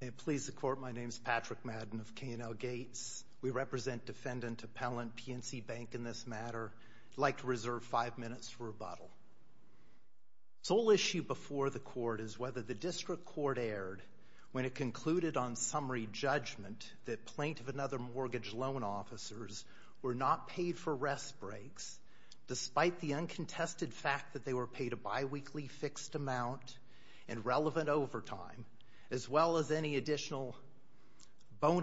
May it please the Court, my name is Patrick Madden of K&L Gates. We represent Defendant Appellant PNC Bank in this matter. I'd like to reserve five minutes for rebuttal. The sole issue before the Court is whether the District Court erred when it concluded on summary judgment that plaintiff and other mortgage loan officers were not paid for rest and paid a biweekly fixed amount in relevant overtime, as well as any additional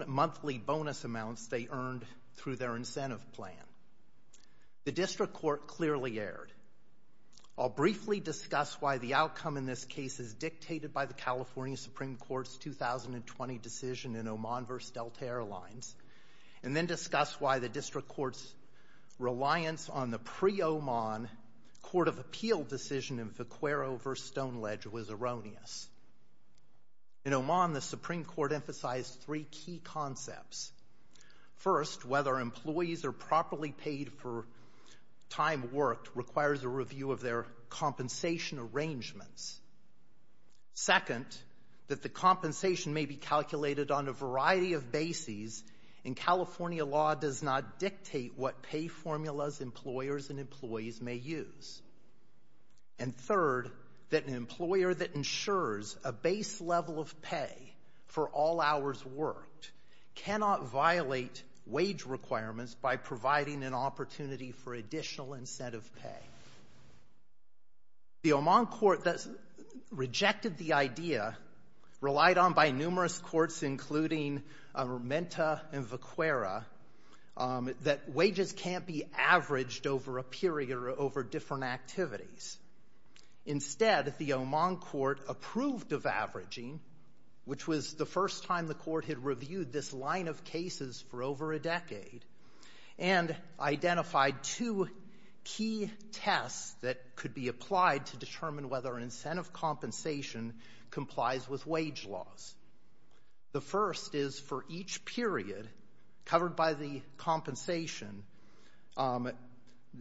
monthly bonus amounts they earned through their incentive plan. The District Court clearly erred. I'll briefly discuss why the outcome in this case is dictated by the California Supreme Court's 2020 decision in Oman v. Delta Airlines, and then discuss why the District Court's decision in Vaquero v. Stoneledge was erroneous. In Oman, the Supreme Court emphasized three key concepts. First, whether employees are properly paid for time worked requires a review of their compensation arrangements. Second, that the compensation may be calculated on a variety of bases, and California law does not dictate what pay formulas employers and employees may use. And third, that an employer that ensures a base level of pay for all hours worked cannot violate wage requirements by providing an opportunity for additional incentive pay. The Oman court that rejected the idea, relied on by numerous courts, including Menta and that wages can't be averaged over a period or over different activities. Instead, the Oman court approved of averaging, which was the first time the court had reviewed this line of cases for over a decade, and identified two key tests that could be applied to determine whether an incentive compensation complies with wage laws. The first is for each period covered by the compensation,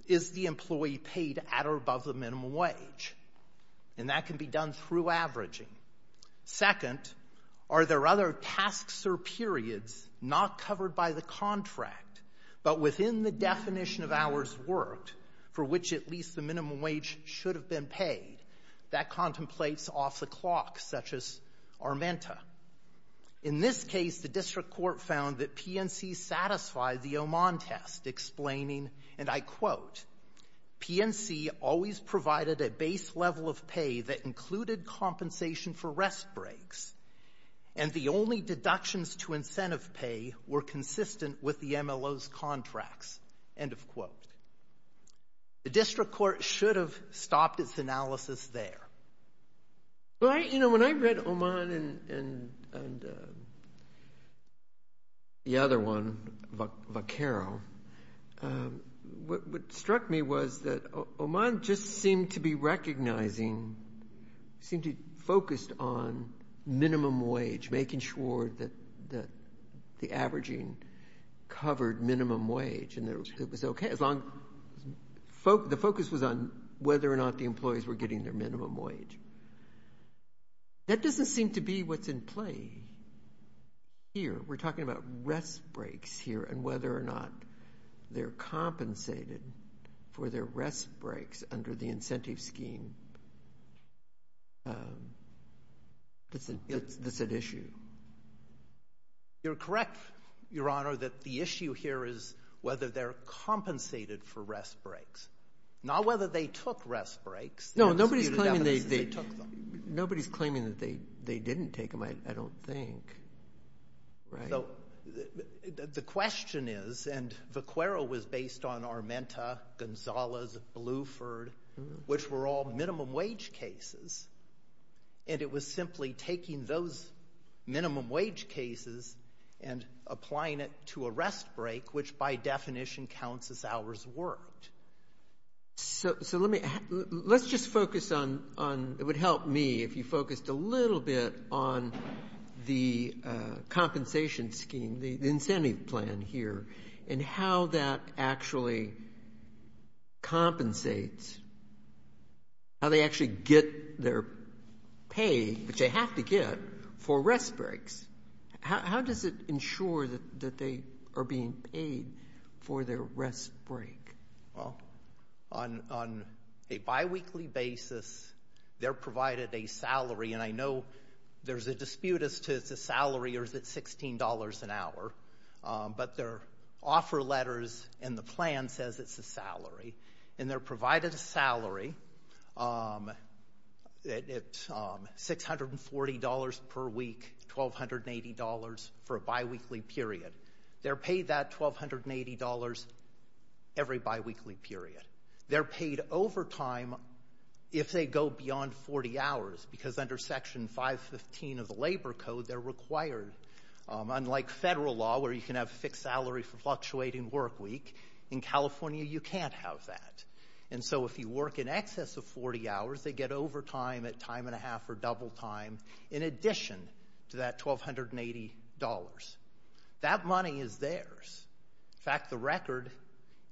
is the employee paid at or above the minimum wage? And that can be done through averaging. Second, are there other tasks or periods not covered by the contract, but within the definition of hours worked, for which at least the minimum wage should have been paid? That contemplates off the clock, such as our Menta. In this case, the district court found that PNC satisfied the Oman test, explaining, and I quote, PNC always provided a base level of pay that included compensation for rest breaks, and the only deductions to incentive pay were consistent with the MLO's contracts. End of quote. The district court should have stopped its analysis there. Well, you know, when I read Oman and the other one, Vaccaro, what struck me was that Oman just seemed to be recognizing, seemed to be focused on minimum wage, making sure that the averaging covered minimum wage, and that it was okay, as long, the focus was on whether or not the employees were getting their minimum wage. That doesn't seem to be what's in play here. We're talking about rest breaks here, and whether or not they're compensated for their rest breaks under the incentive scheme, that's an issue. You're correct, Your Honor, that the issue here is whether they're compensated for rest breaks, not whether they took rest breaks. No, nobody's claiming that they didn't take them, I don't think, right? So the question is, and Vaccaro was based on our Menta, Gonzalez, Bluford, which were all minimum wage cases, and it was simply taking those minimum wage cases and applying it to a rest break, which by definition counts as hours worked. So let's just focus on, it would help me if you focused a little bit on the compensation scheme, the incentive plan here, and how that actually compensates, how they actually get their pay, which they have to get, for rest breaks. How does it ensure that they are being paid for their rest break? On a biweekly basis, they're provided a salary, and I know there's a dispute as to if it's a salary or if it's $16 an hour, but their offer letters in the plan says it's a salary, and they're provided a salary at $640 per week, $1,280 for a biweekly period. They're paid that $1,280 every biweekly period. They're paid overtime if they go beyond 40 hours, because under Section 515 of the Labor Code, they're required. Unlike federal law, where you can have a fixed salary for fluctuating work week, in California you can't have that. And so if you work in excess of 40 hours, they get overtime at time and a half or double time in addition to that $1,280. That money is theirs. In fact, the record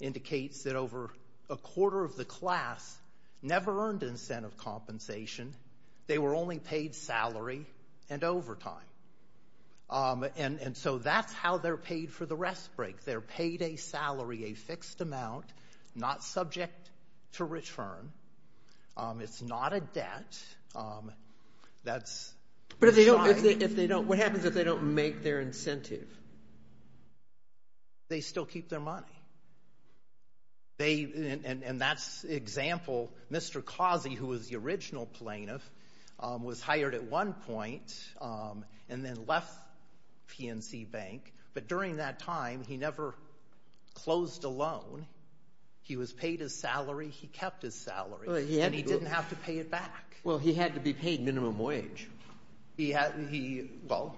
indicates that over a quarter of the class never earned incentive compensation. They were only paid salary and overtime. And so that's how they're paid for the rest break. They're paid a salary, a fixed amount, not subject to return. It's not a debt. That's... But if they don't, what happens if they don't make their incentive? They still keep their money. They — and that's the example. Mr. Causey, who was the original plaintiff, was hired at one point and then left PNC Bank. But during that time, he never closed a loan. He was paid his salary. He kept his salary. And he didn't have to pay it back. Well, he had to be paid minimum wage. He had — well,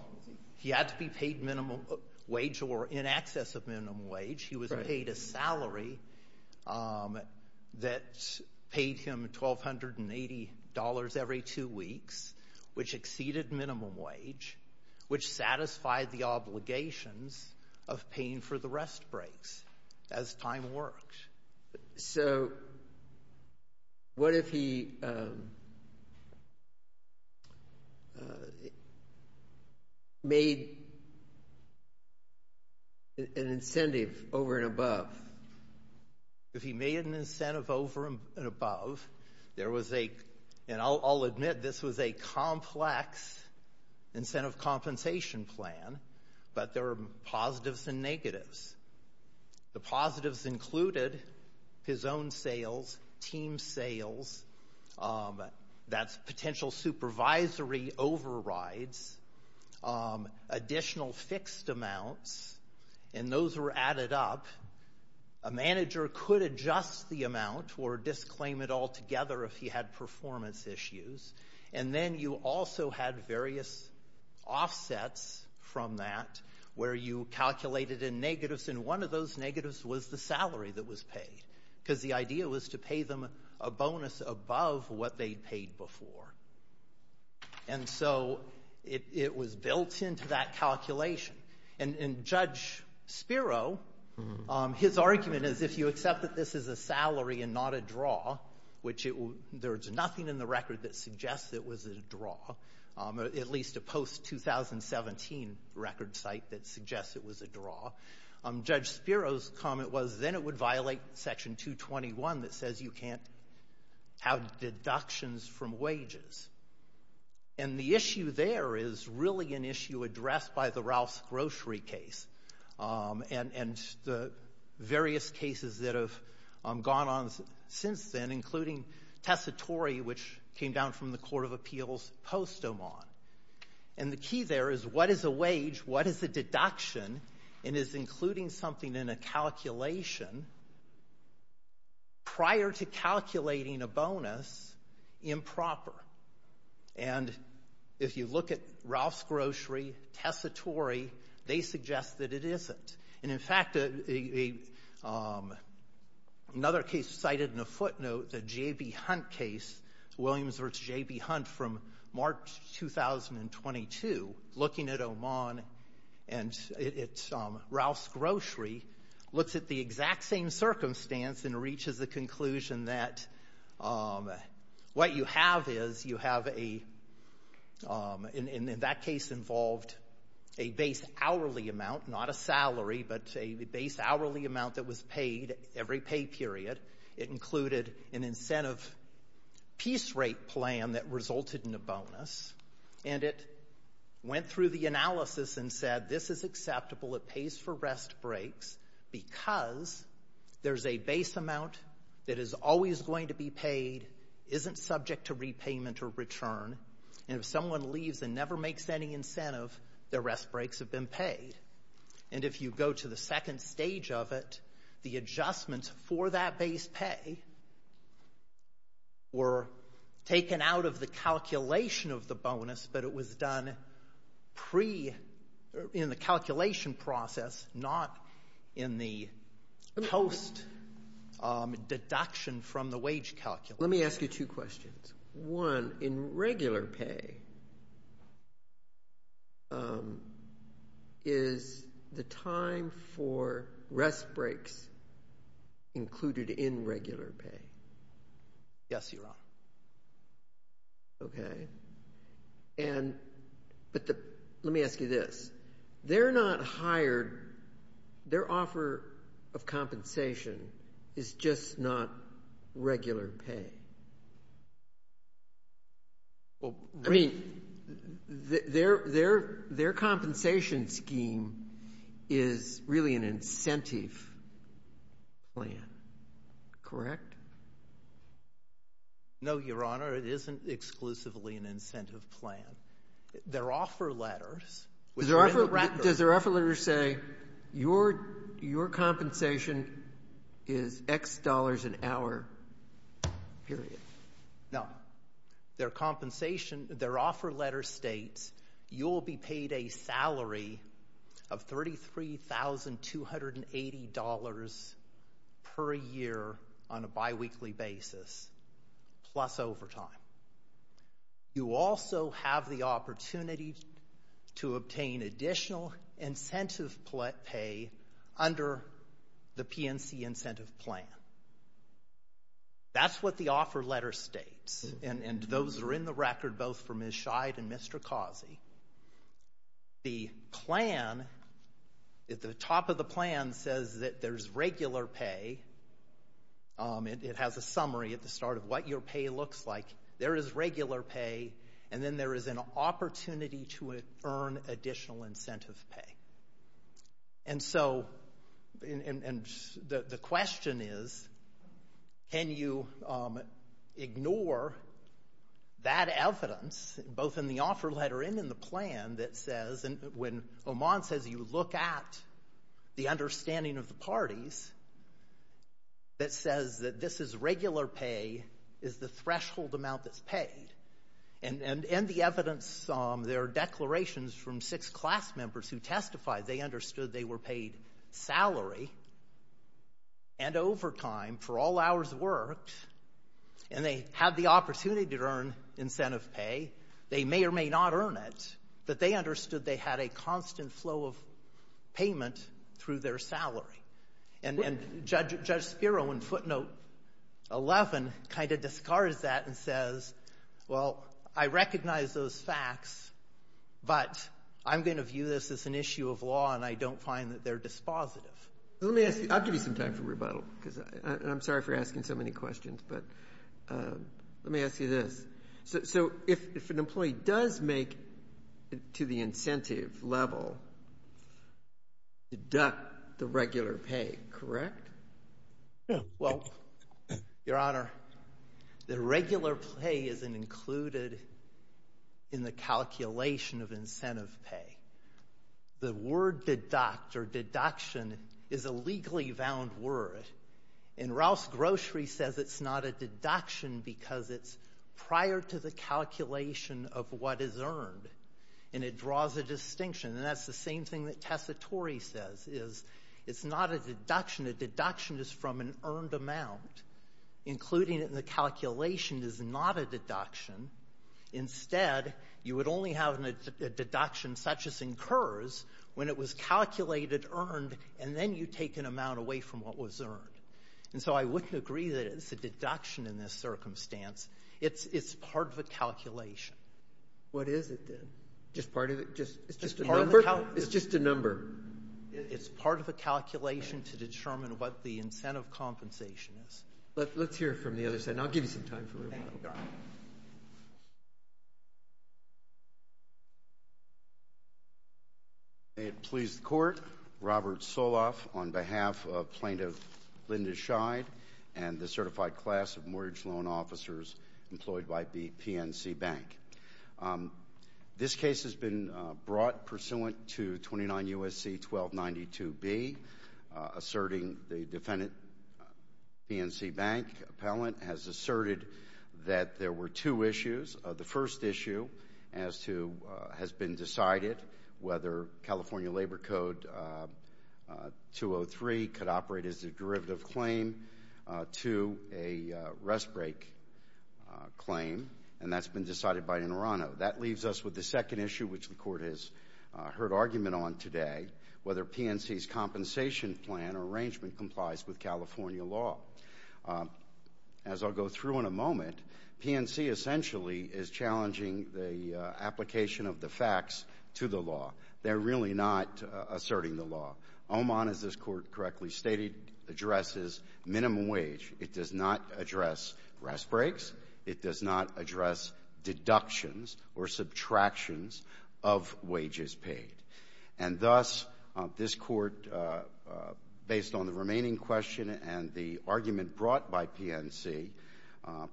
he had to be paid minimum wage or in excess of minimum wage. He was paid a salary that paid him $1,280 every two weeks, which exceeded minimum wage, which satisfied the obligations of paying for the rest breaks as time worked. So what if he made an incentive over and above? If he made an incentive over and above, there was a — and I'll admit this was a complex incentive compensation plan, but there were positives and negatives. The positives included his own sales, team sales, that's potential supervisory overrides, additional fixed amounts, and those were added up. A manager could adjust the amount or disclaim it altogether if he had performance issues. And then you also had various offsets from that where you calculated in negatives, and one of those negatives was the salary that was paid, because the idea was to pay them a bonus above what they'd paid before. And so it was built into that calculation. And Judge Spiro, his argument is if you accept that this is a salary and not a draw, which there's nothing in the record that suggests it was a draw, at least a post-2017 record site that suggests it was a draw, Judge Spiro's comment was then it would violate Section 221 that says you can't have deductions from wages. And the issue there is really an issue addressed by the Ralph's Grocery case and the various cases that have gone on since then, including Tessitore, which came down from the Court of Appeals post-Oman. And the key there is what is a wage, what is a deduction, and is including something in a calculation prior to calculating a bonus improper? And if you look at Ralph's Grocery, Tessitore, they suggest that it isn't. And in fact, another case cited in a footnote, the J.B. Hunt case, Williams v. J.B. Hunt from March 2022, looking at Oman and at Ralph's Grocery, looks at the exact same circumstance and reaches the conclusion that what you have is you have a, in that case involved, a base salary, but a base hourly amount that was paid every pay period. It included an incentive piece rate plan that resulted in a bonus. And it went through the analysis and said this is acceptable, it pays for rest breaks because there's a base amount that is always going to be paid, isn't subject to repayment or return. And if someone leaves and never makes any incentive, their rest breaks have been paid. And if you go to the second stage of it, the adjustments for that base pay were taken out of the calculation of the bonus, but it was done pre, in the calculation process, not in the post deduction from the wage calculation. Let me ask you two questions. One, in regular pay, is the time for rest breaks included in regular pay? Yes, Your Honor. Okay. And, but the, let me ask you this, they're not hired, their offer of compensation is just not regular pay. Well, I mean, their, their, their compensation scheme is really an incentive plan, correct? No, Your Honor, it isn't exclusively an incentive plan. Their offer letters, which are in the record. Does their offer letter say, your, your compensation is X dollars an hour, period? No. Their compensation, their offer letter states, you will be paid a salary of $33,280 per year on a biweekly basis, plus overtime. You also have the opportunity to obtain additional incentive pay under the PNC incentive plan. That's what the offer letter states, and, and those are in the record, both for Ms. Scheid and Mr. Causey. The plan, the top of the plan says that there's regular pay, it has a summary at the start of what your pay looks like, there is regular pay, and then there is an opportunity to earn additional incentive pay. And so, and, and the question is, can you ignore that evidence, both in the offer letter and in the plan, that says, when Oman says you look at the understanding of the parties, that says that this is regular pay, is the threshold amount that's paid? And, and, and the evidence, there are declarations from six class members who testified they understood they were paid salary and overtime for all hours worked, and they had the opportunity to earn incentive pay, they may or may not earn it, but they understood they had a constant flow of payment through their salary. And, and Judge, Judge Spiro in footnote 11 kind of discards that and says, well, I recognize those facts, but I'm going to view this as an issue of law, and I don't find that they're dispositive. Let me ask you, I'll give you some time for rebuttal, because, and I'm sorry for asking so many questions, but let me ask you this. So, so if, if an employee does make, to the incentive level, deduct the regular pay, correct? Yeah. Well, Your Honor, the regular pay isn't included in the calculation of incentive pay. The word deduct or deduction is a legally bound word, and Rouse Grocery says it's not a deduction because it's prior to the calculation of what is earned, and it draws a distinction. And that's the same thing that Tessitore says, is it's not a deduction. A deduction is from an earned amount. Including it in the calculation is not a deduction. Instead, you would only have a deduction such as incurs when it was calculated, earned, And so I wouldn't agree that it's a deduction in this circumstance. It's part of a calculation. What is it, then? Just part of it? Just a number? It's just a number. It's part of a calculation to determine what the incentive compensation is. Let's hear it from the other side, and I'll give you some time for rebuttal. Thank you, Your Honor. Thank you. May it please the Court, Robert Soloff on behalf of Plaintiff Linda Scheid and the certified class of mortgage loan officers employed by the PNC Bank. This case has been brought pursuant to 29 U.S.C. 1292B, asserting the defendant, PNC Bank appellant, has asserted that there were two issues. The first issue has been decided, whether California Labor Code 203 could operate as a derivative claim to a rest break claim, and that's been decided by Nerano. That leaves us with the second issue, which the Court has heard argument on today, whether PNC's compensation plan or arrangement complies with California law. As I'll go through in a moment, PNC essentially is challenging the application of the facts to the law. They're really not asserting the law. OMON, as this Court correctly stated, addresses minimum wage. It does not address rest breaks. It does not address deductions or subtractions of wages paid. And thus, this Court, based on the remaining question and the argument brought by PNC,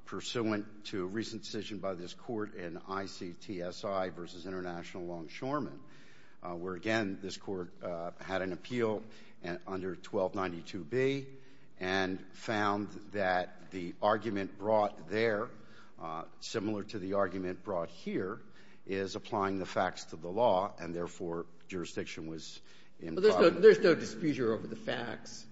pursuant to a recent decision by this Court in ICTSI v. International Longshoremen, where, again, this Court had an appeal under 1292B and found that the argument brought there, similar to the argument brought here, is applying the facts to the law, and, therefore, jurisdiction was implied. There's no dispute here over the facts.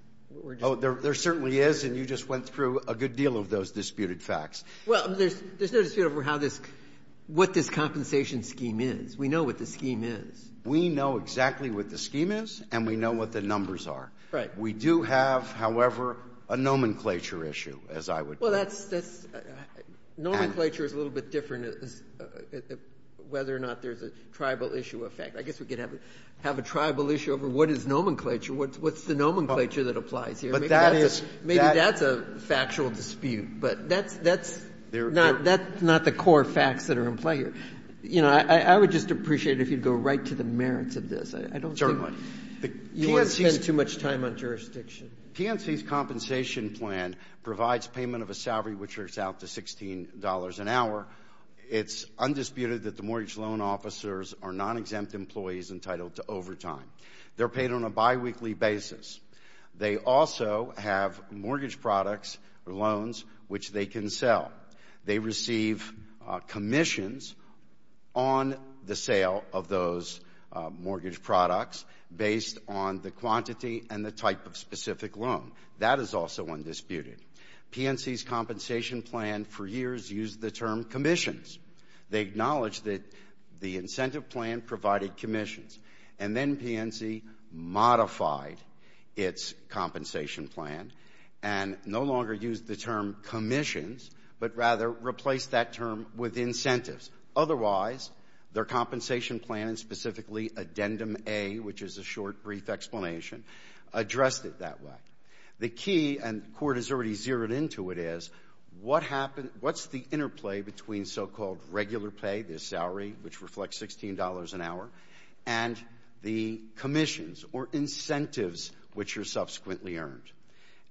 There certainly is, and you just went through a good deal of those disputed facts. Well, there's no dispute over how this – what this compensation scheme is. We know what the scheme is. We know exactly what the scheme is, and we know what the numbers are. Right. We do have, however, a nomenclature issue, as I would put it. Well, that's – nomenclature is a little bit different as whether or not there's a tribal issue of fact. I guess we could have a tribal issue over what is nomenclature, what's the nomenclature that applies here. But that is – Maybe that's a factual dispute, but that's not the core facts that are in play here. You know, I would just appreciate it if you'd go right to the merits of this. I don't think you want to spend too much time on jurisdiction. PNC's compensation plan provides payment of a salary which works out to $16 an hour. It's undisputed that the mortgage loan officers are non-exempt employees entitled to overtime. They're paid on a biweekly basis. They also have mortgage products or loans which they can sell. They receive commissions on the sale of those mortgage products based on the quantity and the type of specific loan. That is also undisputed. PNC's compensation plan for years used the term commissions. They acknowledged that the incentive plan provided commissions. And then PNC modified its compensation plan and no longer used the term commissions, but rather replaced that term with incentives. Otherwise, their compensation plan, and specifically Addendum A, which is a short, brief explanation, addressed it that way. The key, and the Court has already zeroed into it, is what's the interplay between so-called regular pay, the salary which reflects $16 an hour, and the commissions or incentives which are subsequently earned?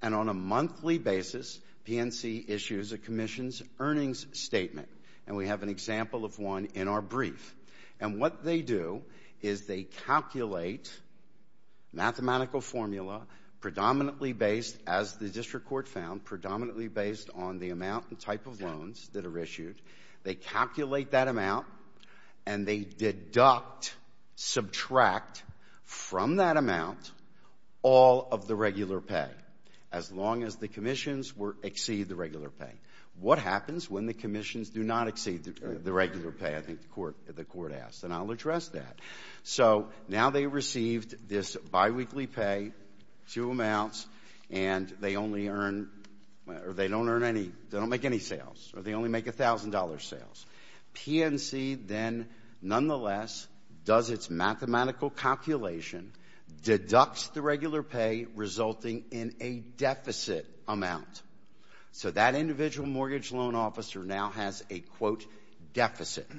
And on a monthly basis, PNC issues a commission's earnings statement. And we have an example of one in our brief. And what they do is they calculate mathematical formula, predominantly based, as the district court found, predominantly based on the amount and type of loans that are issued. They calculate that amount, and they deduct, subtract from that amount all of the regular pay, as long as the commissions exceed the regular pay. What happens when the commissions do not exceed the regular pay, I think the Court asked. And I'll address that. So now they received this biweekly pay, two amounts, and they only earn or they don't earn any, they don't make any sales, or they only make $1,000 sales. PNC then, nonetheless, does its mathematical calculation, deducts the regular pay, resulting in a deficit amount. So that individual mortgage loan officer now has a, quote, deficit.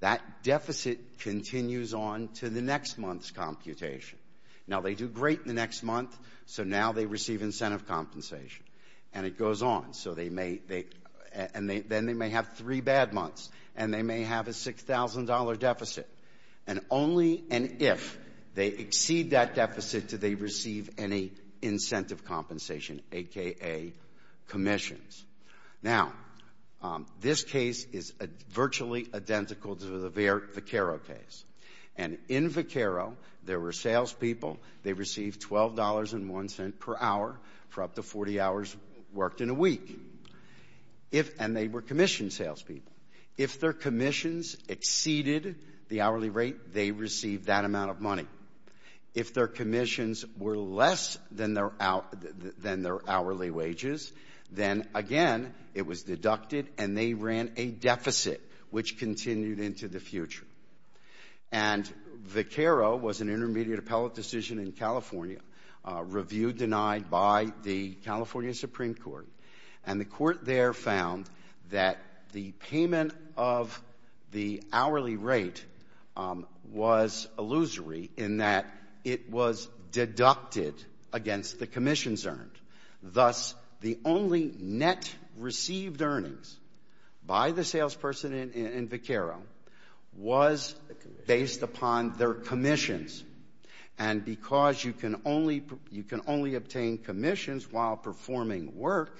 That deficit continues on to the next month's computation. Now, they do great in the next month, so now they receive incentive compensation. And it goes on. So they may, and then they may have three bad months, and they may have a $6,000 deficit. And only if they exceed that deficit do they receive any incentive compensation, a.k.a. commissions. Now, this case is virtually identical to the Vaccaro case. And in Vaccaro, there were salespeople, they received $12.01 per hour for up to 40 hours worked in a week. And they were commissioned salespeople. If their commissions exceeded the hourly rate, they received that amount of money. If their commissions were less than their hourly wages, then, again, it was deducted and they ran a deficit, which continued into the future. And Vaccaro was an intermediate appellate decision in California, review denied by the California Supreme Court. And the court there found that the payment of the hourly rate was illusory in the sense in that it was deducted against the commissions earned. Thus, the only net received earnings by the salesperson in Vaccaro was based upon their commissions. And because you can only obtain commissions while performing work,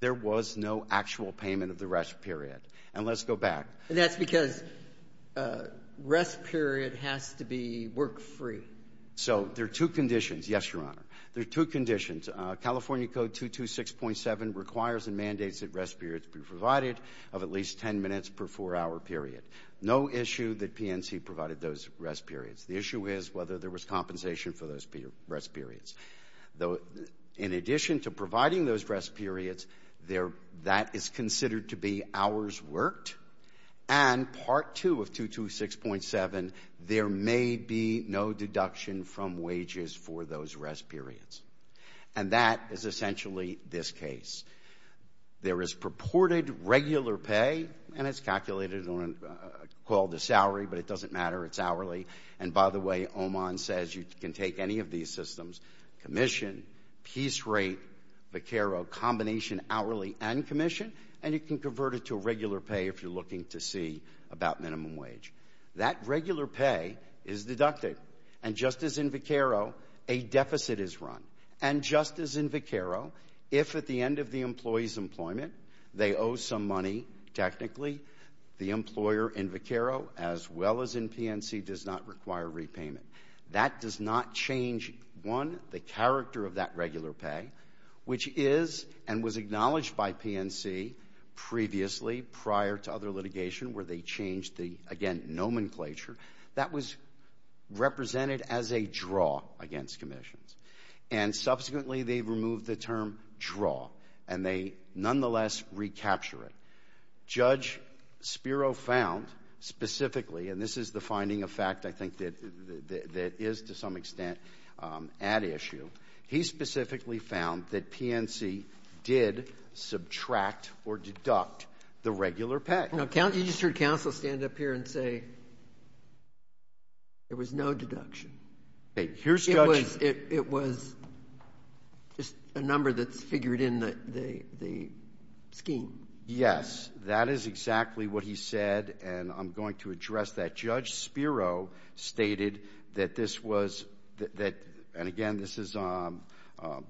there was no actual payment of the rest period. And let's go back. And that's because rest period has to be work-free. So there are two conditions. Yes, Your Honor. There are two conditions. California Code 226.7 requires and mandates that rest periods be provided of at least 10 minutes per four-hour period. No issue that PNC provided those rest periods. The issue is whether there was compensation for those rest periods. Though, in addition to providing those rest periods, that is considered to be hours worked. And Part 2 of 226.7, there may be no deduction from wages for those rest periods. And that is essentially this case. There is purported regular pay, and it's calculated on a call to salary, but it doesn't matter. It's hourly. And by the way, Oman says you can take any of these systems, commission, piece rate, Vaccaro, combination hourly and commission, and you can convert it to regular pay if you're looking to see about minimum wage. That regular pay is deducted. And just as in Vaccaro, a deficit is run. And just as in Vaccaro, if at the end of the employee's employment they owe some money, technically, the employer in Vaccaro as well as in PNC does not require repayment. That does not change, one, the character of that regular pay, which is and was specifically prior to other litigation where they changed the, again, nomenclature. That was represented as a draw against commissions. And subsequently, they removed the term draw, and they nonetheless recapture it. Judge Spiro found specifically, and this is the finding of fact I think that is to some extent at issue, he specifically found that PNC did subtract or deduct the regular pay. Now, you just heard counsel stand up here and say there was no deduction. It was just a number that's figured in the scheme. Yes. That is exactly what he said, and I'm going to address that. Judge Spiro stated that this was, and again, this is on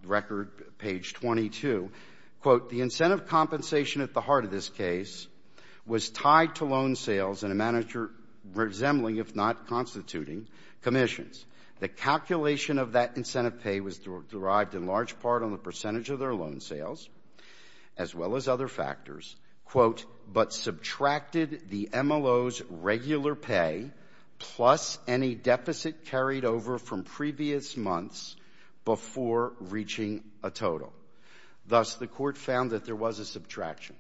record, page 22, quote, the incentive compensation at the heart of this case was tied to loan sales and a manager resembling, if not constituting, commissions. The calculation of that incentive pay was derived in large part on the percentage of their loan sales as well as other factors, quote, but subtracted the MLO's regular pay plus any deficit carried over from previous months before reaching a total. Thus, the Court found that there was a subtraction.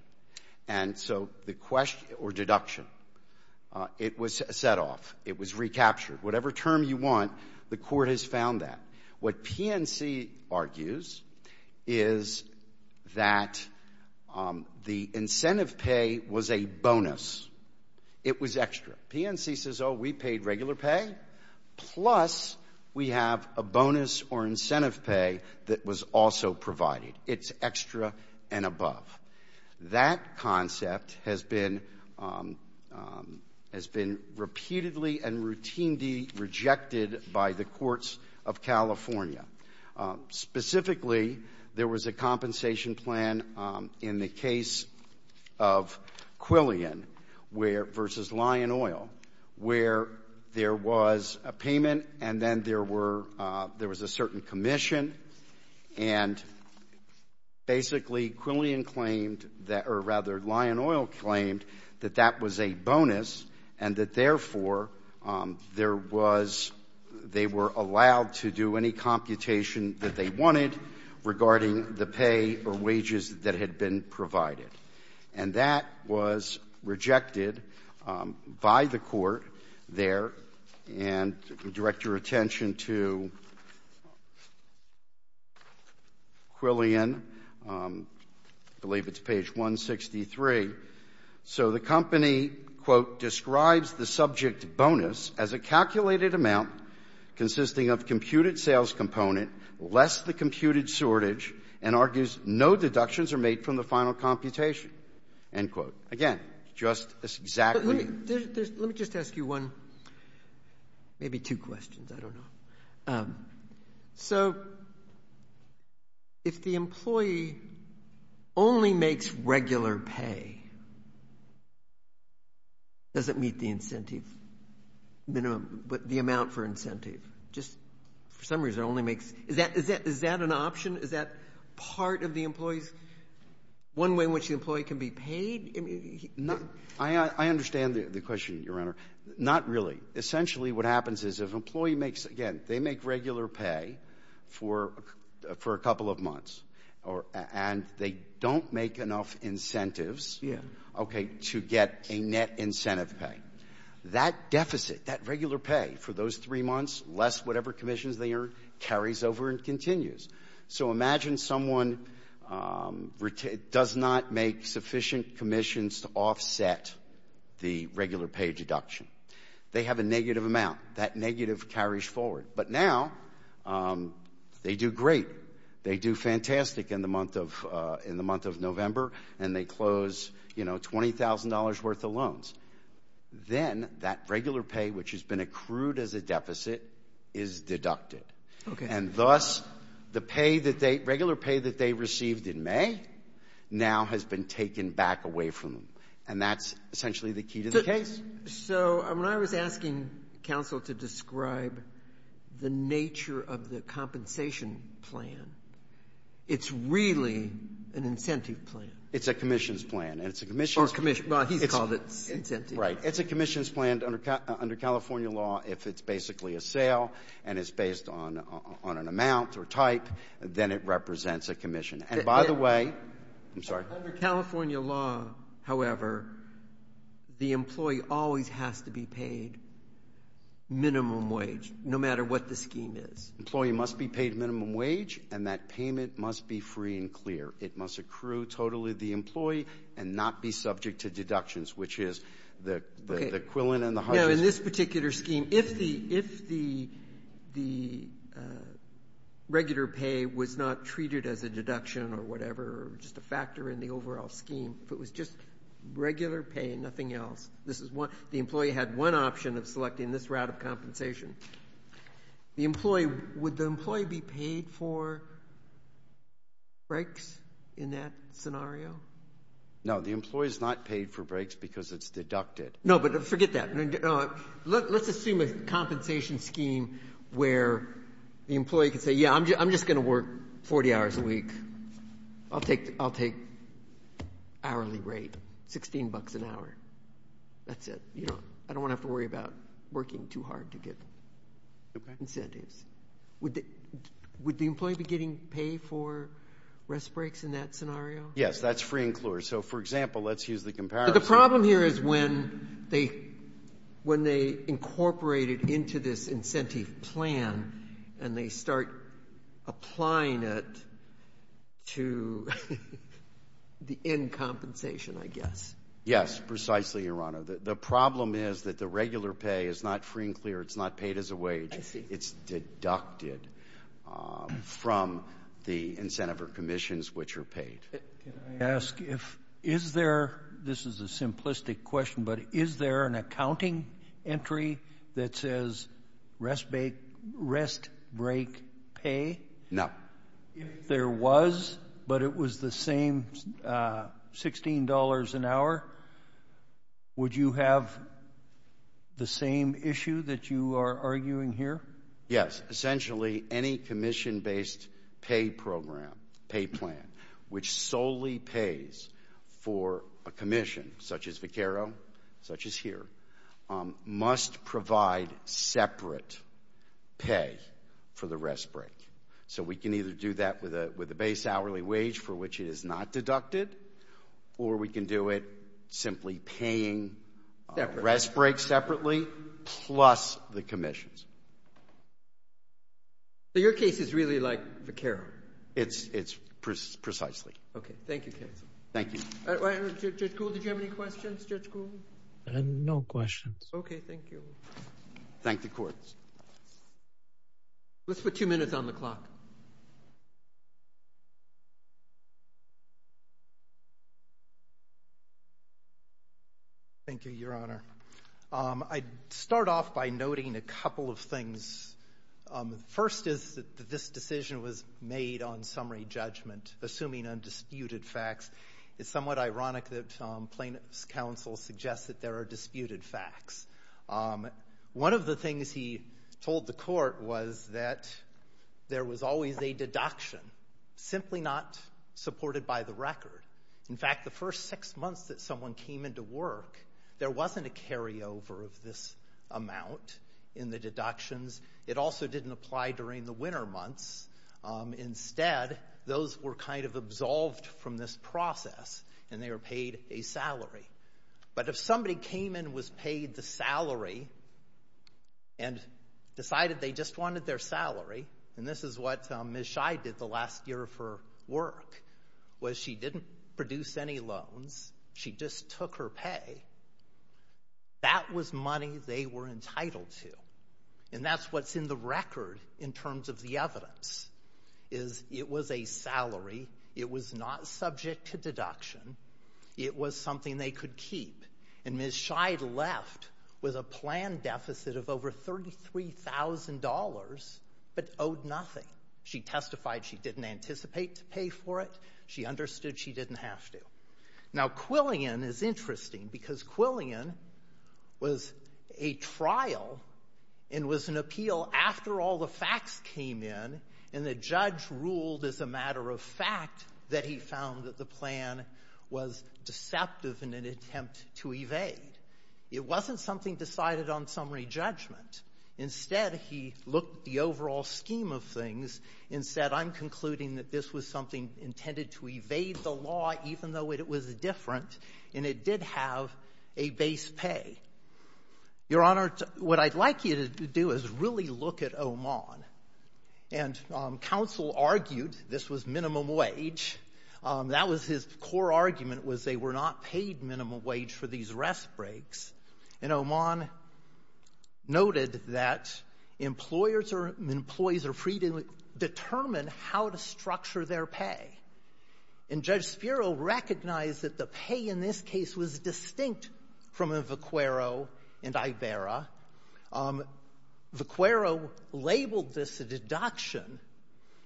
And so the question or deduction, it was set off. It was recaptured. Whatever term you want, the Court has found that. What PNC argues is that the incentive pay was a bonus. It was extra. PNC says, oh, we paid regular pay plus we have a bonus or incentive pay that was also provided. It's extra and above. That concept has been repeatedly and routinely rejected by the courts of California. Specifically, there was a compensation plan in the case of Quillian where versus Lion Oil where there was a payment and then there were there was a certain commission. And basically, Quillian claimed that or rather Lion Oil claimed that that was a bonus and that, therefore, there was they were allowed to do any computation that they wanted regarding the pay or wages that had been provided. And that was rejected by the Court there. And to direct your attention to Quillian, I believe it's page 163. So the company, quote, describes the subject bonus as a calculated amount consisting of computed Again, just as exactly. Let me just ask you one, maybe two questions. I don't know. So if the employee only makes regular pay, does it meet the incentive minimum, the amount for incentive? Just for some reason only makes, is that an option? Is that part of the employee's one way in which the employee can be paid? I understand the question, Your Honor. Not really. Essentially, what happens is if an employee makes, again, they make regular pay for a couple of months, and they don't make enough incentives to get a net incentive pay, that deficit, that regular pay for those three months, less whatever commissions they earn, carries over and continues. So imagine someone does not make sufficient commissions to offset the regular pay deduction. They have a negative amount. That negative carries forward. But now, they do great. They do fantastic in the month of November, and they close, you know, $20,000 worth of loans. Then that regular pay, which has been accrued as a deficit, is deducted. And thus, the regular pay that they received in May now has been taken back away from them. And that's essentially the key to the case. So when I was asking counsel to describe the nature of the compensation plan, it's really an incentive plan. It's a commissions plan. Or commission. Well, he's called it incentives. Right. It's a commissions plan under California law. If it's basically a sale and it's based on an amount or type, then it represents a commission. And by the way, I'm sorry. Under California law, however, the employee always has to be paid minimum wage, no matter what the scheme is. Employee must be paid minimum wage, and that payment must be free and clear. It must accrue totally to the employee and not be subject to deductions, which is the quillen and the hudges. Now, in this particular scheme, if the regular pay was not treated as a deduction or whatever or just a factor in the overall scheme, if it was just regular pay and nothing else, the employee had one option of selecting this route of compensation. The employee, would the employee be paid for breaks in that scenario? No, the employee is not paid for breaks because it's deducted. No, but forget that. Let's assume a compensation scheme where the employee could say, yeah, I'm just going to work 40 hours a week. I'll take hourly rate, $16 an hour. That's it. I don't want to have to worry about working too hard to get incentives. Would the employee be getting paid for rest breaks in that scenario? Yes, that's free and clear. So, for example, let's use the comparison. But the problem here is when they incorporate it into this incentive plan and they start applying it to the end compensation, I guess. Yes, precisely, Your Honor. The problem is that the regular pay is not free and clear. It's not paid as a wage. I see. It's deducted from the incentive or commissions which are paid. Can I ask if, is there, this is a simplistic question, but is there an accounting entry that says rest break pay? No. If there was, but it was the same $16 an hour, would you have the same issue that you are arguing here? Yes. Essentially, any commission-based pay program, pay plan, which solely pays for a commission such as Viqueiro, such as here, must provide separate pay for the rest break. So we can either do that with a base hourly wage for which it is not deducted or we can do it simply paying rest break separately plus the commissions. So your case is really like Viqueiro? It's precisely. Okay. Thank you, counsel. Thank you. Judge Gould, did you have any questions? Judge Gould? No questions. Okay. Thank you. Thank the Court. Let's put two minutes on the clock. Thank you, Your Honor. I'd start off by noting a couple of things. First is that this decision was made on summary judgment, assuming undisputed facts. It's somewhat ironic that plaintiff's counsel suggests that there are disputed facts. One of the things he told the Court was that there was always a deduction, simply not supported by the record. In fact, the first six months that someone came into work, there wasn't a carryover of this amount in the deductions. It also didn't apply during the winter months. Instead, those were kind of absolved from this process, and they were paid a salary. But if somebody came in and was paid the salary and decided they just wanted their salary, and this is what Ms. Scheid did the last year of her work, was she didn't produce any loans. She just took her pay. That was money they were entitled to, and that's what's in the record in terms of the evidence, is it was a salary. It was not subject to deduction. It was something they could keep. And Ms. Scheid left with a plan deficit of over $33,000 but owed nothing. She testified she didn't anticipate to pay for it. She understood she didn't have to. Now, Quillian is interesting because Quillian was a trial and was an appeal after all the facts came in, and the judge ruled as a matter of fact that he found that the plan was deceptive in an attempt to evade. It wasn't something decided on summary judgment. Instead, he looked at the overall scheme of things and said, I'm concluding that this was something intended to evade the law, even though it was different, and it did have a base pay. Your Honor, what I'd like you to do is really look at Oman and counsel argued this was minimum wage. That was his core argument was they were not paid minimum wage for these rest breaks. And Oman noted that employers or employees are free to determine how to structure their pay. And Judge Spiro recognized that the pay in this case was distinct from in Vaquero and Iberra. Vaquero labeled this a deduction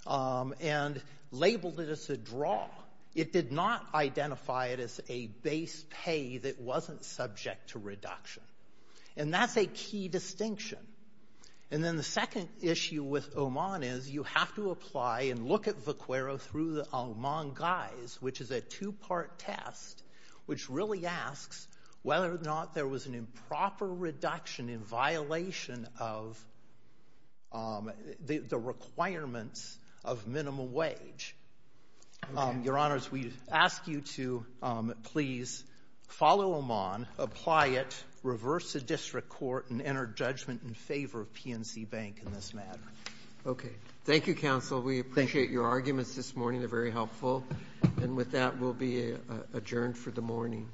and labeled it as a draw. It did not identify it as a base pay that wasn't subject to reduction. And that's a key distinction. And then the second issue with Oman is you have to apply and look at Vaquero through the Oman guise, which is a two-part test, which really asks whether or not there was an improper reduction in violation of the requirements of minimum wage. Your Honors, we ask you to please follow Oman, apply it, reverse the district court and enter judgment in favor of PNC Bank in this matter. Okay. Thank you, counsel. We appreciate your arguments this morning. They're very helpful. And with that, we'll be adjourned for the morning. I'll rise.